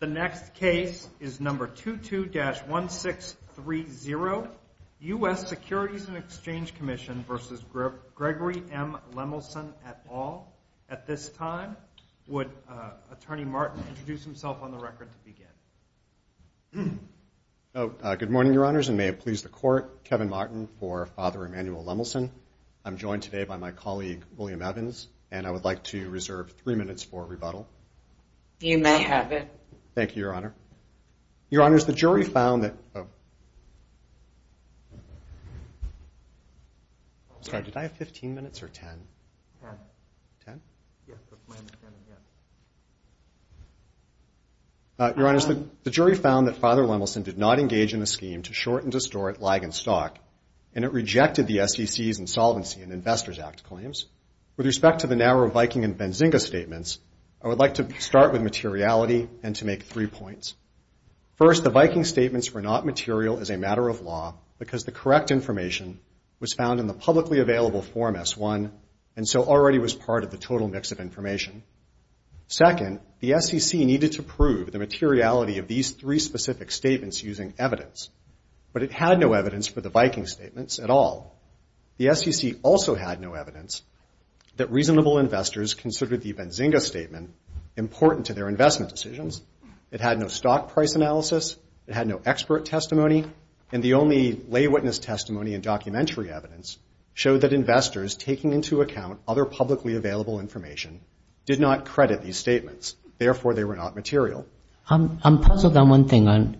The next case is number 22-1630. U.S. Securities and Exchange Commission v. Gregory M. Lemelson et al. At this time, would Attorney Martin introduce himself on the record to begin? Good morning, Your Honors, and may it please the Court, Kevin Martin for Father Emanuel Lemelson. I'm joined today by my colleague, William Evans, and I would like to reserve three minutes for rebuttal. You may have it. Thank you, Your Honor. Your Honors, the jury found that Father Lemelson did not engage in a scheme to shorten distort lag in stock, and it rejected the SEC's insolvency in Investors Act claims. With respect to the narrow Viking and Benzinga statements, I would like to start with materiality and to make three points. First, the Viking statements were not material as a matter of law because the correct information was found in the publicly available Form S-1 and so already was part of the total mix of information. Second, the SEC needed to prove the materiality of these three specific statements using evidence, but it had no evidence for the Viking statements at all. The SEC also had no evidence that reasonable investors considered the Benzinga statement important to their investment decisions. It had no stock price analysis, it had no expert testimony, and the only lay witness testimony and documentary evidence showed that investors taking into account other publicly available information did not credit these statements. Therefore, they were not material. I'm puzzled on one thing.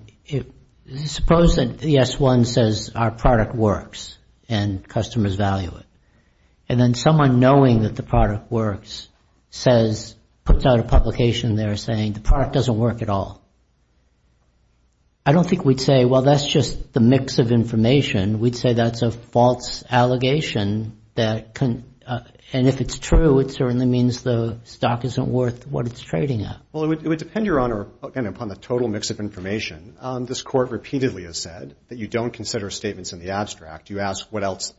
Suppose that the S-1 says our product works and customers value it, and then someone knowing that the product works puts out a publication there saying the product doesn't work at all. I don't think we'd say, well, that's just the mix of information. We'd say that's a false allegation, and if it's true, it certainly means the stock isn't worth what it's trading at. Well, it would depend, Your Honor, upon the total mix of information. This Court repeatedly has said that you don't consider statements in the abstract. You ask what else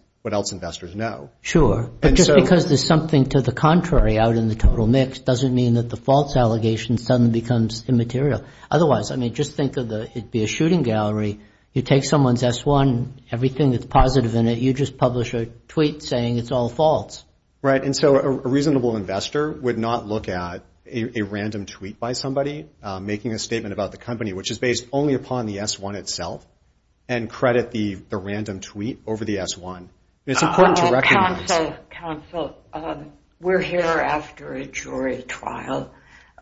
investors know. Sure. But just because there's something to the contrary out in the total mix doesn't mean that the false allegation suddenly becomes immaterial. Otherwise, I mean, just think of the, it'd be a shooting gallery. You take someone's S-1, everything that's positive in it, you just publish a tweet saying it's all false. Right, and so a reasonable investor would not look at a random tweet by somebody making a statement about the company, which is based only upon the S-1 itself, and credit the random tweet over the S-1. It's important to recognize... Counsel, we're here after a jury trial.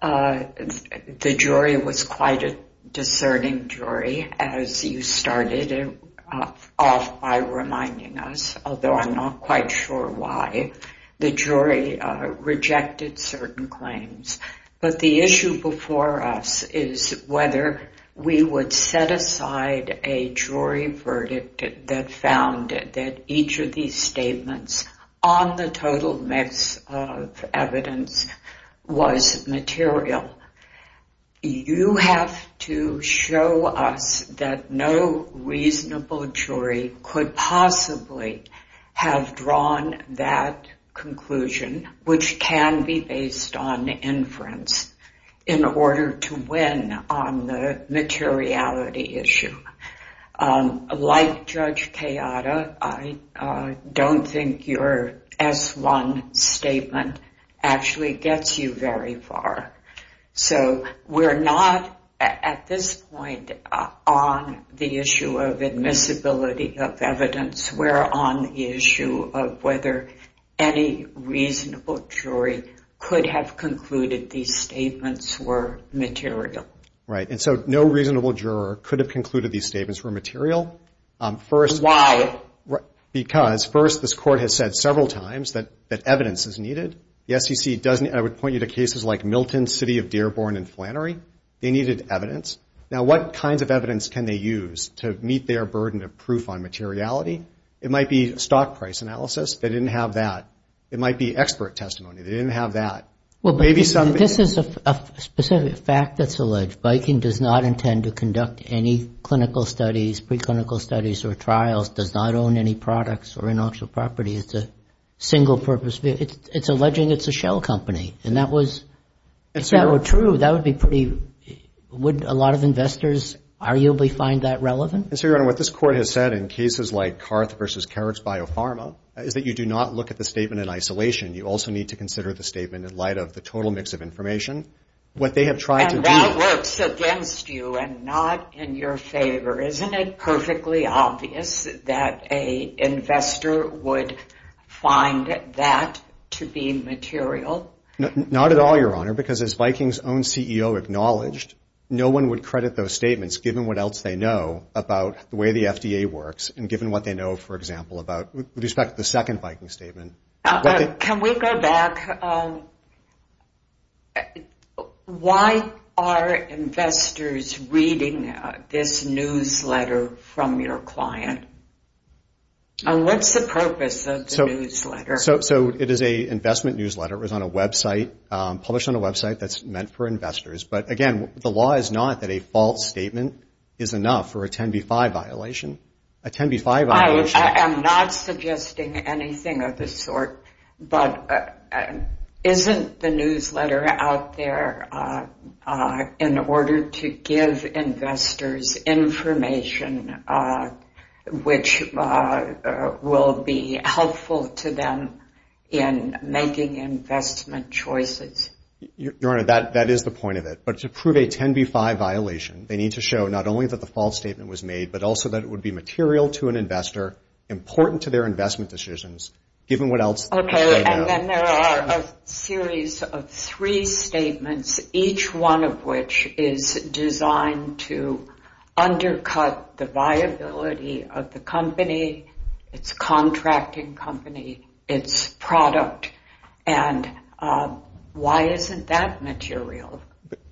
The jury was quite a discerning jury, as you started off by reminding us, although I'm not quite sure why, the jury rejected certain claims. But the issue before us is whether we would set aside a jury verdict that found that each of these statements on the total mix of evidence was material. You have to show us that no reasonable jury could possibly have drawn that conclusion, which can be based on inference, in order to win on the materiality issue. Like Judge Kayada, I don't think your S-1 statement actually gets you very far. So we're not, at this point, on the issue of admissibility of evidence. We're on the issue of whether any reasonable jury could have concluded these statements were material. Right, and so no reasonable juror could have concluded these statements were material. Why? Because, first, this Court has said several times that evidence is needed. I would point you to cases like Milton, City of Dearborn, and Flannery. They needed evidence. Now, what kinds of evidence can they use to meet their burden of proof on materiality? It might be stock price analysis. They didn't have that. It might be expert testimony. They didn't have that. Well, but this is a specific fact that's alleged. Viking does not intend to conduct any clinical studies, preclinical studies, or trials, does not own any products or intellectual property. It's a single-purpose vehicle. It's alleging it's a shell company, and if that were true, that would be pretty, would a lot of investors arguably find that relevant? And so, Your Honor, what this Court has said in cases like Carth v. Carrick's Biopharma is that you do not look at the statement in isolation. You also need to consider the statement in light of the total mix of information. And that works against you and not in your favor. Isn't it perfectly obvious that an investor would find that to be material? Not at all, Your Honor, because as Viking's own CEO acknowledged, no one would credit those statements, given what else they know about the way the FDA works, and given what they know, for example, with respect to the second Viking statement. Can we go back? Why are investors reading this newsletter from your client? And what's the purpose of the newsletter? So it is an investment newsletter. It was on a website, published on a website that's meant for investors. But again, the law is not that a false statement is enough for a 10b-5 violation. I am not suggesting anything of the sort, but isn't the newsletter out there in order to give investors information, which will be helpful to them in making investment choices? Your Honor, that is the point of it. But to prove a 10b-5 violation, they need to show not only that the false statement was made, but also that it would be material to an investor, important to their investment decisions, given what else they know. And then there are a series of three statements, each one of which is designed to undercut the viability of the company, its contracting company, its product. And why isn't that material?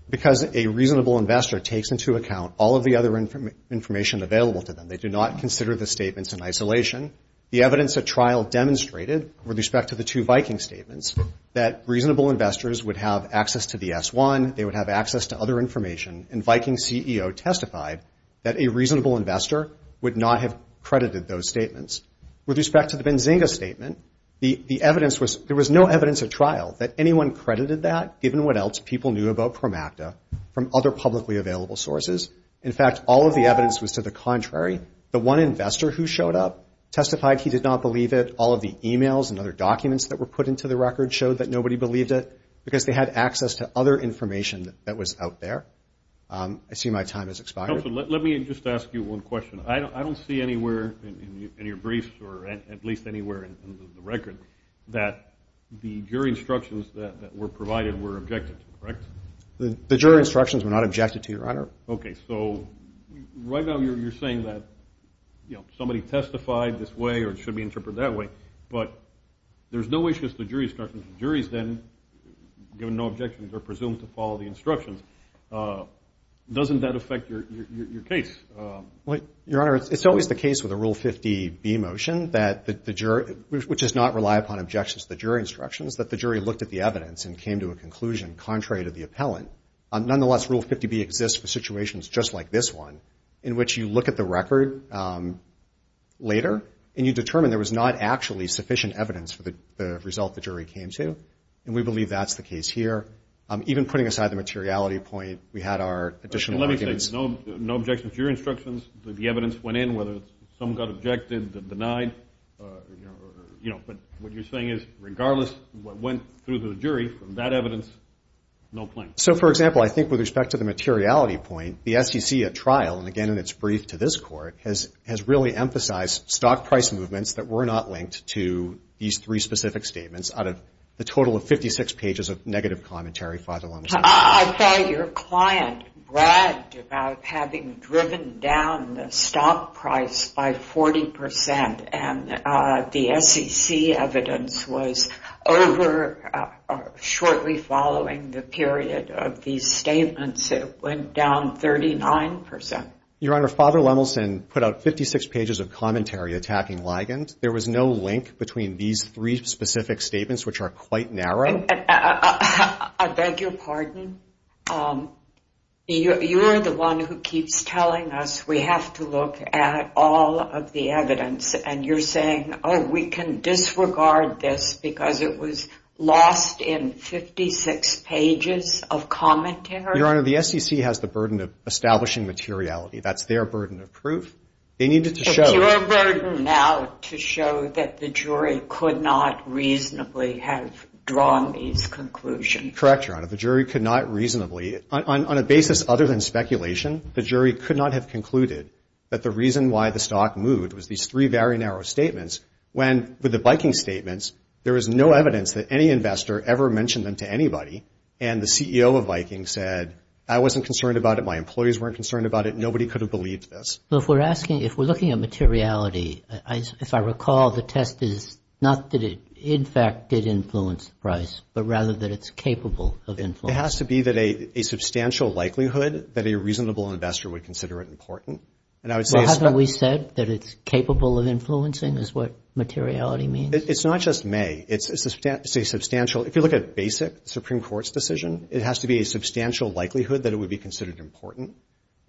Because a reasonable investor takes into account all of the other information available to them. They do not consider the statements in isolation. The evidence at trial demonstrated, with respect to the two Viking statements, that reasonable investors would have access to the S1, they would have access to other information, and Viking CEO testified that a reasonable investor would not have credited those statements. With respect to the Benzinga statement, there was no evidence at trial that anyone credited that, given what else people knew about Promacta from other publicly available sources. In fact, all of the evidence was to the contrary. The one investor who showed up testified he did not believe it. All of the e-mails and other documents that were put into the record showed that nobody believed it because they had access to other information that was out there. I see my time has expired. I don't see anywhere in your briefs, or at least anywhere in the record, that the jury instructions that were provided were objected to, correct? The jury instructions were not objected to, Your Honor. Okay, so right now you're saying that somebody testified this way or it should be interpreted that way, but there's no issues with the jury instructions. The jury's then, given no objections, are presumed to follow the instructions. Doesn't that affect your case? Your Honor, it's always the case with a Rule 50B motion, which does not rely upon objections to the jury instructions, that the jury looked at the evidence and came to a conclusion contrary to the appellant. Nonetheless, Rule 50B exists for situations just like this one, in which you look at the record later and you determine there was not actually sufficient evidence for the result the jury came to, and we believe that's the case here. Even putting aside the materiality point, we had our additional arguments. Let me say, no objections to your instructions, that the evidence went in, whether some got objected, denied, you know, but what you're saying is, regardless of what went through the jury, from that evidence, no claim. So, for example, I think with respect to the materiality point, the SEC at trial, and again in its brief to this Court, has really emphasized stock price movements that were not linked to these three specific statements out of the total of 56 pages of negative commentary filed along the same line. I thought your client bragged about having driven down the stock price by 40%, and the SEC evidence was over shortly following the period of these statements. It went down 39%. Your Honor, Father Lemelson put out 56 pages of commentary attacking Ligand. There was no link between these three specific statements, which are quite narrow. I beg your pardon? You're the one who keeps telling us we have to look at all of the evidence, and you're saying, oh, we can disregard this because it was lost in 56 pages of commentary? Your Honor, the SEC has the burden of establishing materiality. That's their burden of proof. It's your burden now to show that the jury could not reasonably have drawn these conclusions. Correct, Your Honor, the jury could not reasonably, on a basis other than speculation, the jury could not have concluded that the reason why the stock moved was these three very narrow statements. With the Viking statements, there was no evidence that any investor ever mentioned them to anybody, and the CEO of Viking said, I wasn't concerned about it, my employees weren't concerned about it, nobody could have believed this. If we're looking at materiality, if I recall, the test is not that it in fact did influence the price, but rather that it's capable of influencing. It has to be a substantial likelihood that a reasonable investor would consider it important. Well, haven't we said that it's capable of influencing is what materiality means? It's not just may, it's a substantial, if you look at basic Supreme Court's decision, it has to be a substantial likelihood that it would be considered important.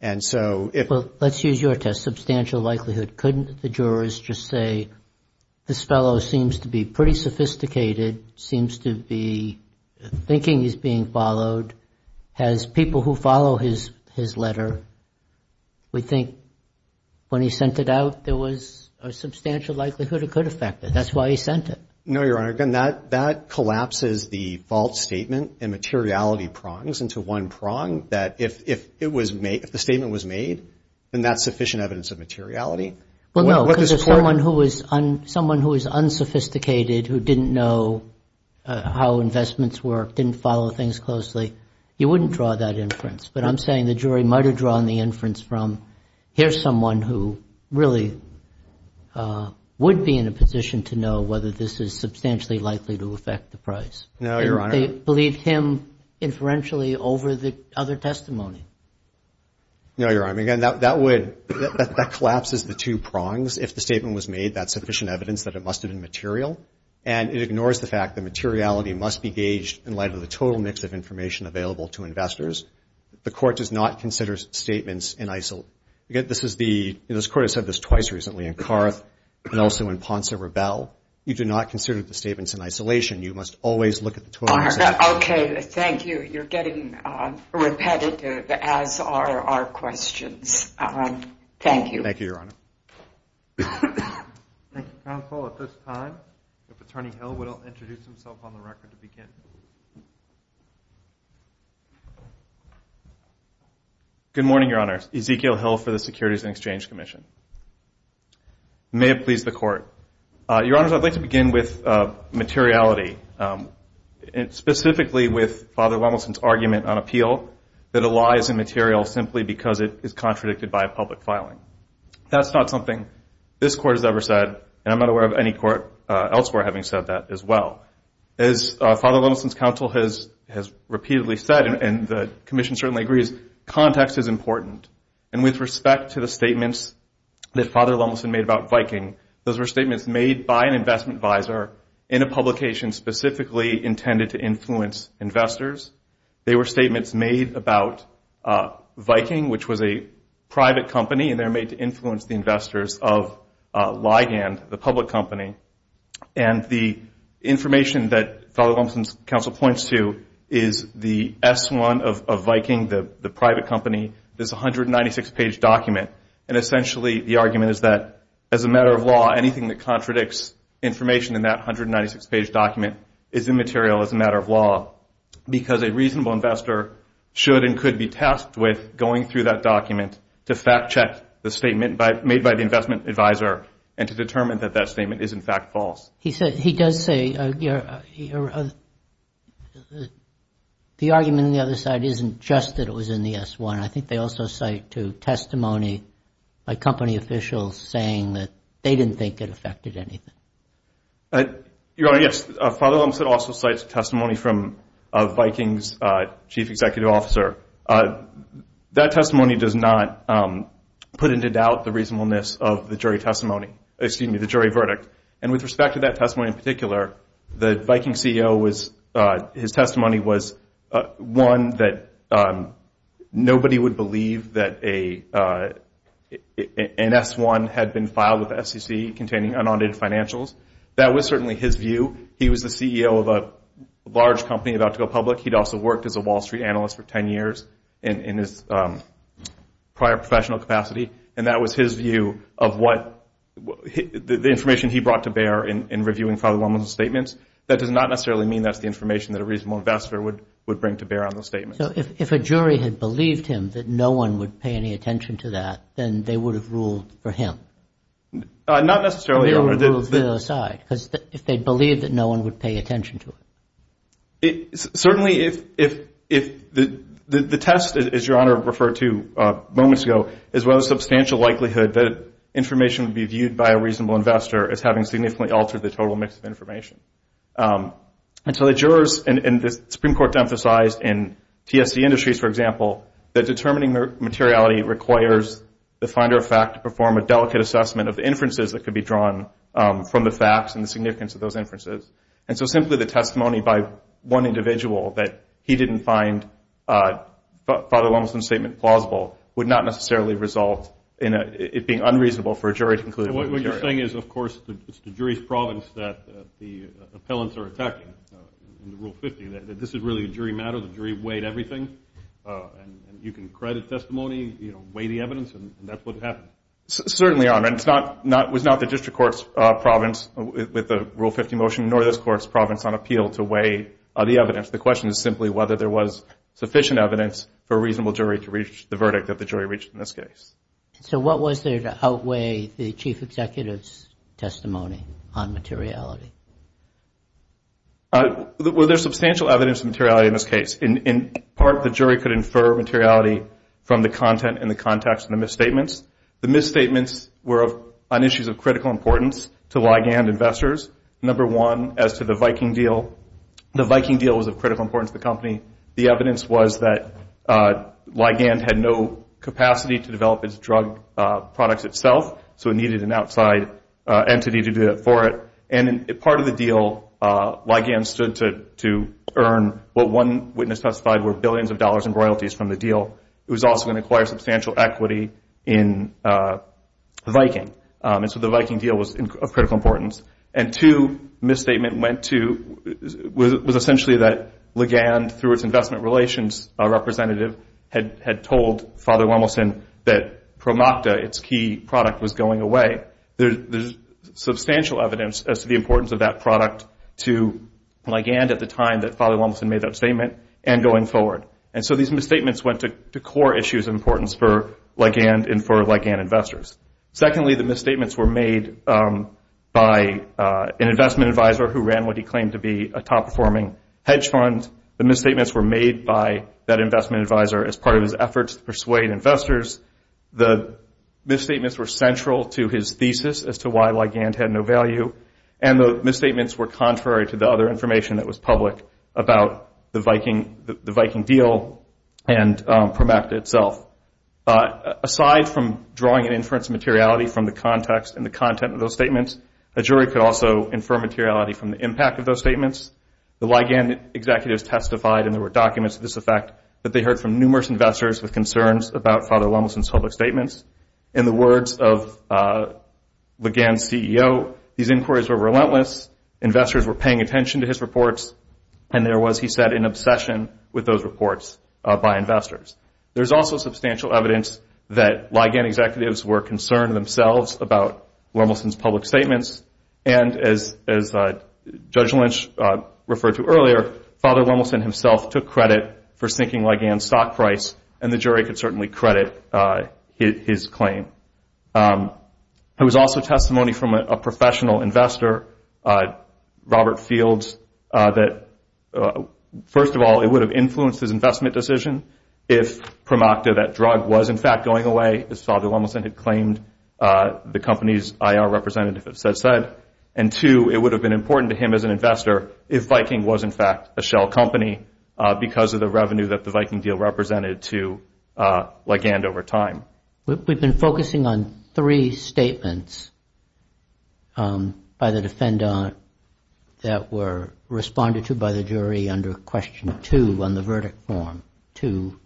Well, let's use your test, substantial likelihood. Couldn't the jurors just say, this fellow seems to be pretty sophisticated, seems to be thinking he's being followed, has people who follow his letter, we think when he sent it out, there was a substantial likelihood it could affect it, that's why he sent it. No, Your Honor, that collapses the false statement and materiality prongs into one prong, that if the statement was made, then that's sufficient evidence of materiality. Well, no, because someone who is unsophisticated, who didn't know how investments work, didn't follow things closely, you wouldn't draw that inference. But I'm saying the jury might have drawn the inference from, here's someone who really would be in a position to know whether this is substantially likely to affect the price. No, Your Honor. They believed him inferentially over the other testimony. No, Your Honor, again, that would, that collapses the two prongs, if the statement was made, that's sufficient evidence that it must have been material, and it ignores the fact that materiality must be gauged in light of the total mix of information available to investors. The Court does not consider statements in isolation. Again, this is the, this Court has said this twice recently, in Carruth and also in Ponce and Rebelle. You do not consider the statements in isolation. You must always look at the total mix of information. Okay, thank you. You're getting repetitive, as are our questions. Thank you. Thank you, Your Honor. Thank you, Counsel. At this time, if Attorney Hill would introduce himself on the record to begin. Good morning, Your Honor. Ezekiel Hill for the Securities and Exchange Commission. May it please the Court. Your Honors, I'd like to begin with materiality, specifically with Father Lemelson's argument on appeal that a law is immaterial simply because it is contradicted by a public filing. That's not something this Court has ever said, and I'm not aware of any Court elsewhere having said that as well. As Father Lemelson's counsel has repeatedly said, and the Commission certainly agrees, context is important. And with respect to the statements that Father Lemelson made about Viking, those were statements made by an investment advisor in a publication specifically intended to influence investors. They were statements made about Viking, which was a private company, and they were made to influence the investors of Ligand, the public company. And the information that Father Lemelson's counsel points to is the S-1 of Viking, the private company, this 196-page document, and essentially the argument is that as a matter of law, anything that contradicts information in that 196-page document is immaterial as a matter of law. Because a reasonable investor should and could be tasked with going through that document to fact-check the statement made by the investment advisor and to determine that that statement is in fact false. He does say the argument on the other side isn't just that it was in the S-1. I think they also cite to testimony by company officials saying that they didn't think it affected anything. Your Honor, yes, Father Lemelson also cites testimony from Viking's chief executive officer. That testimony does not put into doubt the reasonableness of the jury testimony, excuse me, the jury verdict. And with respect to that testimony in particular, the Viking CEO, his testimony was one that nobody would believe that an S-1 had been filed with the SEC containing unaudited financials. That was certainly his view. He was the CEO of a large company about to go public. He'd also worked as a Wall Street analyst for 10 years in his prior professional capacity. And that was his view of what the information he brought to bear in reviewing Father Lemelson's statements. That does not necessarily mean that's the information that a reasonable investor would bring to bear on those statements. So if a jury had believed him that no one would pay any attention to that, then they would have ruled for him? Not necessarily, Your Honor. Because if they believed that no one would pay attention to it. Certainly if the test, as Your Honor referred to moments ago, is one of the substantial likelihood that information would be viewed by a reasonable investor as having significantly altered the total mix of information. And so the jurors, and the Supreme Court emphasized in TSC Industries, for example, that determining the materiality requires the finder of fact to perform a delicate assessment of the inferences that could be drawn from the facts and the significance of those inferences. And so simply the testimony by one individual that he didn't find Father Lemelson's statement plausible would not necessarily result in it being unreasonable for a jury to conclude. What you're saying is, of course, it's the jury's province that the appellants are attacking. In Rule 50, this is really a jury matter. The jury weighed everything. And you can credit testimony, weigh the evidence, and that's what happened. Certainly, Your Honor. It was not the district court's province with the Rule 50 motion, nor this court's province on appeal to weigh the evidence. The question is simply whether there was sufficient evidence for a reasonable jury to reach the verdict that the jury reached in this case. Were there substantial evidence of materiality in this case? In part, the jury could infer materiality from the content and the context of the misstatements. The misstatements were on issues of critical importance to ligand investors. Number one, as to the Viking deal, the Viking deal was of critical importance to the company. The evidence was that ligand had no capacity to develop its drug products itself, so it needed an outside entity to do that for it. And part of the deal, ligand stood to earn what one witness testified were billions of dollars in royalties from the deal. It was also going to acquire substantial equity in Viking. And so the Viking deal was of critical importance. And two, the misstatement was essentially that ligand, through its investment relations representative, had told Father Lemelson that Promocta, its key product, was going away. There's substantial evidence as to the importance of that product to ligand at the time that Father Lemelson made that statement and going forward. And so these misstatements went to core issues of importance for ligand and for ligand investors. Secondly, the misstatements were made by an investment advisor who ran what he claimed to be a top-performing hedge fund. The misstatements were made by that investment advisor as part of his efforts to persuade investors. The misstatements were central to his thesis as to why ligand had no value. And the misstatements were contrary to the other information that was public about the Viking deal and Promocta itself. Aside from drawing an inference of materiality from the context and the content of those statements, a jury could also infer materiality from the impact of those statements. The ligand executives testified, and there were documents of this effect, that they heard from numerous investors with concerns about Father Lemelson's public statements. In the words of ligand's CEO, these inquiries were relentless, investors were paying attention to his reports, and there was, he said, an obsession with those reports by investors. There's also substantial evidence that ligand executives were concerned themselves about Lemelson's public statements. And as Judge Lynch referred to earlier, Father Lemelson himself took credit for sinking ligand's stock price, and the jury could certainly credit his claim. There was also testimony from a professional investor, Robert Fields, that first of all, it would have influenced his investment decision if Promocta, that drug, was in fact going away, as Father Lemelson had claimed the company's IR representative had said. And two, it would have been important to him as an investor if Viking was in fact a shell company because of the revenue that the Viking deal represented to ligand over time. We've been focusing on three statements by the defendant that were responded to by the jury under question two on the verdict form, two,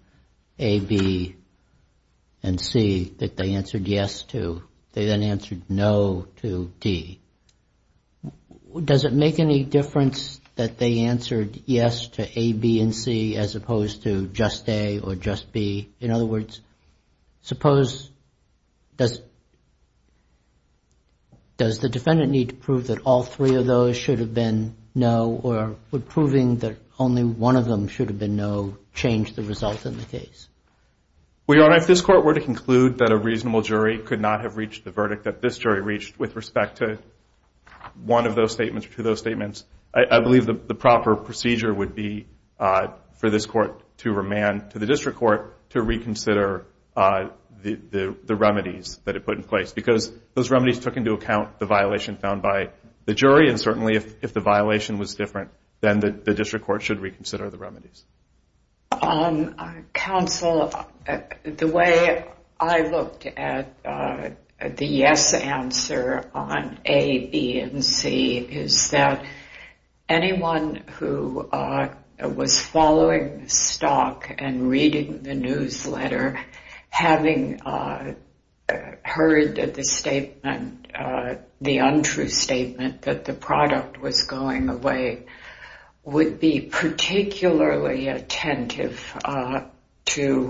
A, B, and C, that they answered yes to. They then answered no to D. Does it make any difference that they answered yes to A, B, and C as opposed to just A or just B? In other words, suppose, does the defendant need to prove that all three of those should have been no or would proving that only one of them should have been no change the result in the case? Well, Your Honor, if this court were to conclude that a reasonable jury could not have reached the verdict that this jury reached with respect to one of those statements or two of those statements, I believe the proper procedure would be for this court to remand to the district court to reconsider the remedies that it put in place because those remedies took into account the violation found by the jury and certainly if the violation was different, then the district court should reconsider the remedies. Counsel, the way I looked at the yes answer on A, B, and C is that anyone who was following the stock and reading the newsletter, having heard the untrue statement that the product was going away, would be particularly attentive to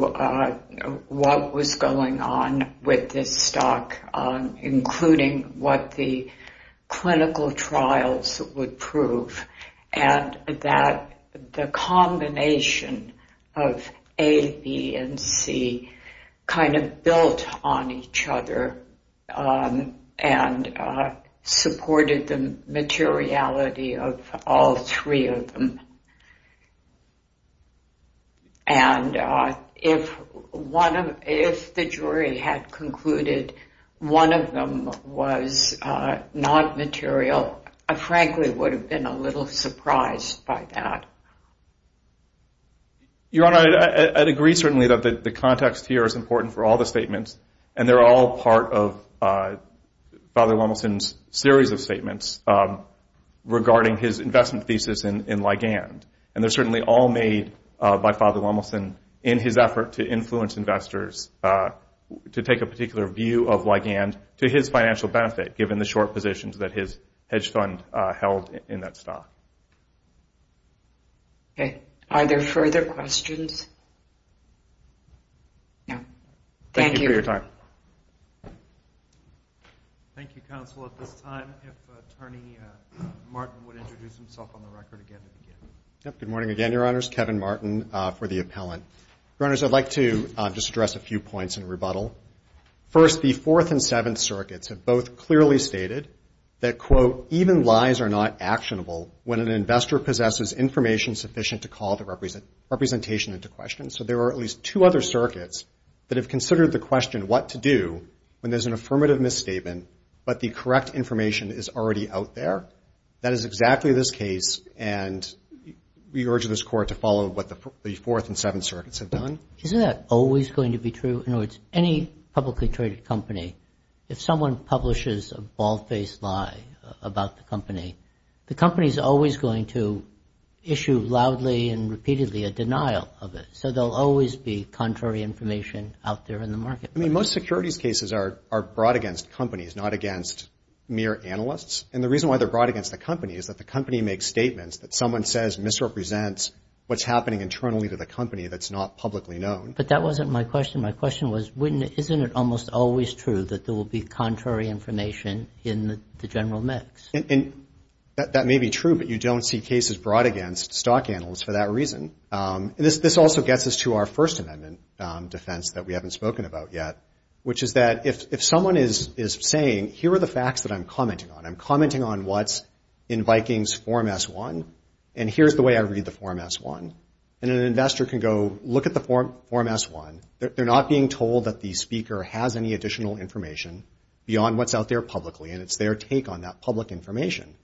what was going on with this stock including what the clinical trials would prove and that the combination of A, B, and C kind of built on each other and supported the materiality of all three of them. And if the jury had concluded one of them was not material, I frankly would have been a little surprised by that. Your Honor, I'd agree certainly that the context here is important for all the statements and they're all part of Father Lemelson's series of statements regarding his investment thesis in Ligand and they're certainly all made by Father Lemelson in his effort to influence investors to take a particular view of Ligand to his financial benefit given the short positions that his hedge fund held in that stock. Are there further questions? Thank you for your time. Good morning again, Your Honors. Kevin Martin for the appellant. Your Honors, I'd like to just address a few points in rebuttal. First, the Fourth and Seventh Circuits have both clearly stated that, quote, even lies are not actionable when an investor possesses information sufficient to call the representation into question, so there are at least two other circuits that have considered the question what to do when there's an affirmative misstatement but the correct information is already out there. That is exactly this case and we urge this Court to follow what the Fourth and Seventh Circuits have done. Isn't that always going to be true? In other words, any publicly traded company, if someone publishes a bald-faced lie about the company, the company is always going to issue loudly and repeatedly a denial of it, so there'll always be contrary information out there in the marketplace. I mean, most securities cases are brought against companies, not against mere analysts, and the reason why they're brought against the company is that the company makes statements that someone says misrepresents what's happening internally to the company that's not publicly known. But that wasn't my question. My question was, isn't it almost always true that there will be contrary information in the general mix? That may be true, but you don't see cases brought against stock analysts for that reason. This also gets us to our First Amendment defense that we haven't spoken about yet, which is that if someone is saying, here are the facts that I'm commenting on. I'm commenting on what's in Vikings Form S-1, and here's the way I read the Form S-1, and an investor can go look at the Form S-1. They're not being told that the speaker has any additional information beyond what's out there publicly, and it's their take on that public information,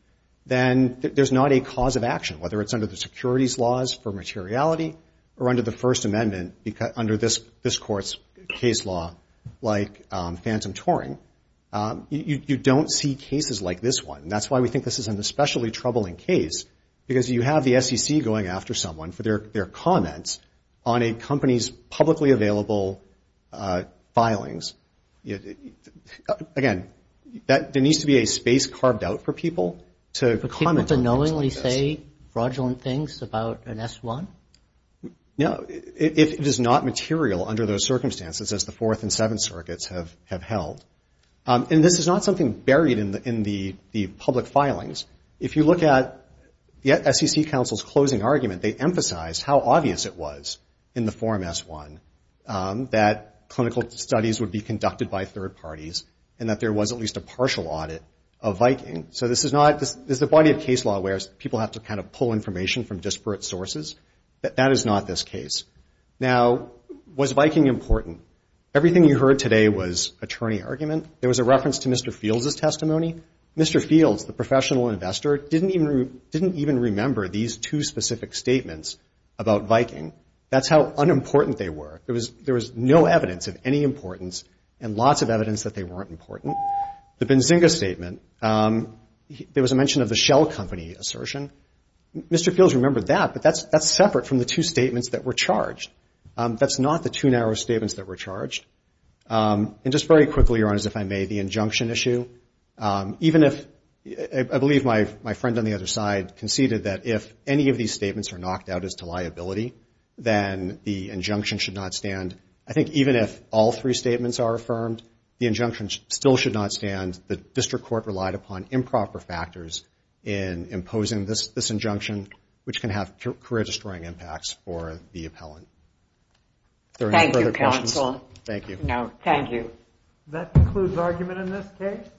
then there's not a cause of action, whether it's under the securities laws for materiality or under the First Amendment, under this court's case law, like phantom touring. You don't see cases like this one, and that's why we think this is an especially troubling case, because you have the SEC going after someone for their comments on a company's publicly available filings. Again, there needs to be a space carved out for people to comment on things like this. Can you say fraudulent things about an S-1? No, it is not material under those circumstances, as the Fourth and Seventh Circuits have held. And this is not something buried in the public filings. If you look at the SEC counsel's closing argument, they emphasized how obvious it was in the Form S-1 that clinical studies would be conducted by third parties, and that there was at least a partial audit of Viking. So this is not, there's a body of case law where people have to kind of pull information from disparate sources. That is not this case. Now, was Viking important? Everything you heard today was attorney argument. There was a reference to Mr. Fields' testimony. Mr. Fields, the professional investor, didn't even remember these two specific statements about Viking. That's how unimportant they were. There was no evidence of any importance, and lots of evidence that they weren't important. The Benzinga statement, there was a mention of the Shell Company assertion. Mr. Fields remembered that, but that's separate from the two statements that were charged. That's not the two narrow statements that were charged. And just very quickly, Your Honors, if I may, the injunction issue, even if, I believe my friend on the other side conceded that if any of these statements are knocked out as to liability, then the injunction should not stand. I think even if all three statements are affirmed, the injunction still should not stand. The District Court relied upon improper factors in imposing this injunction, which can have career-destroying impacts for the appellant. Thank you.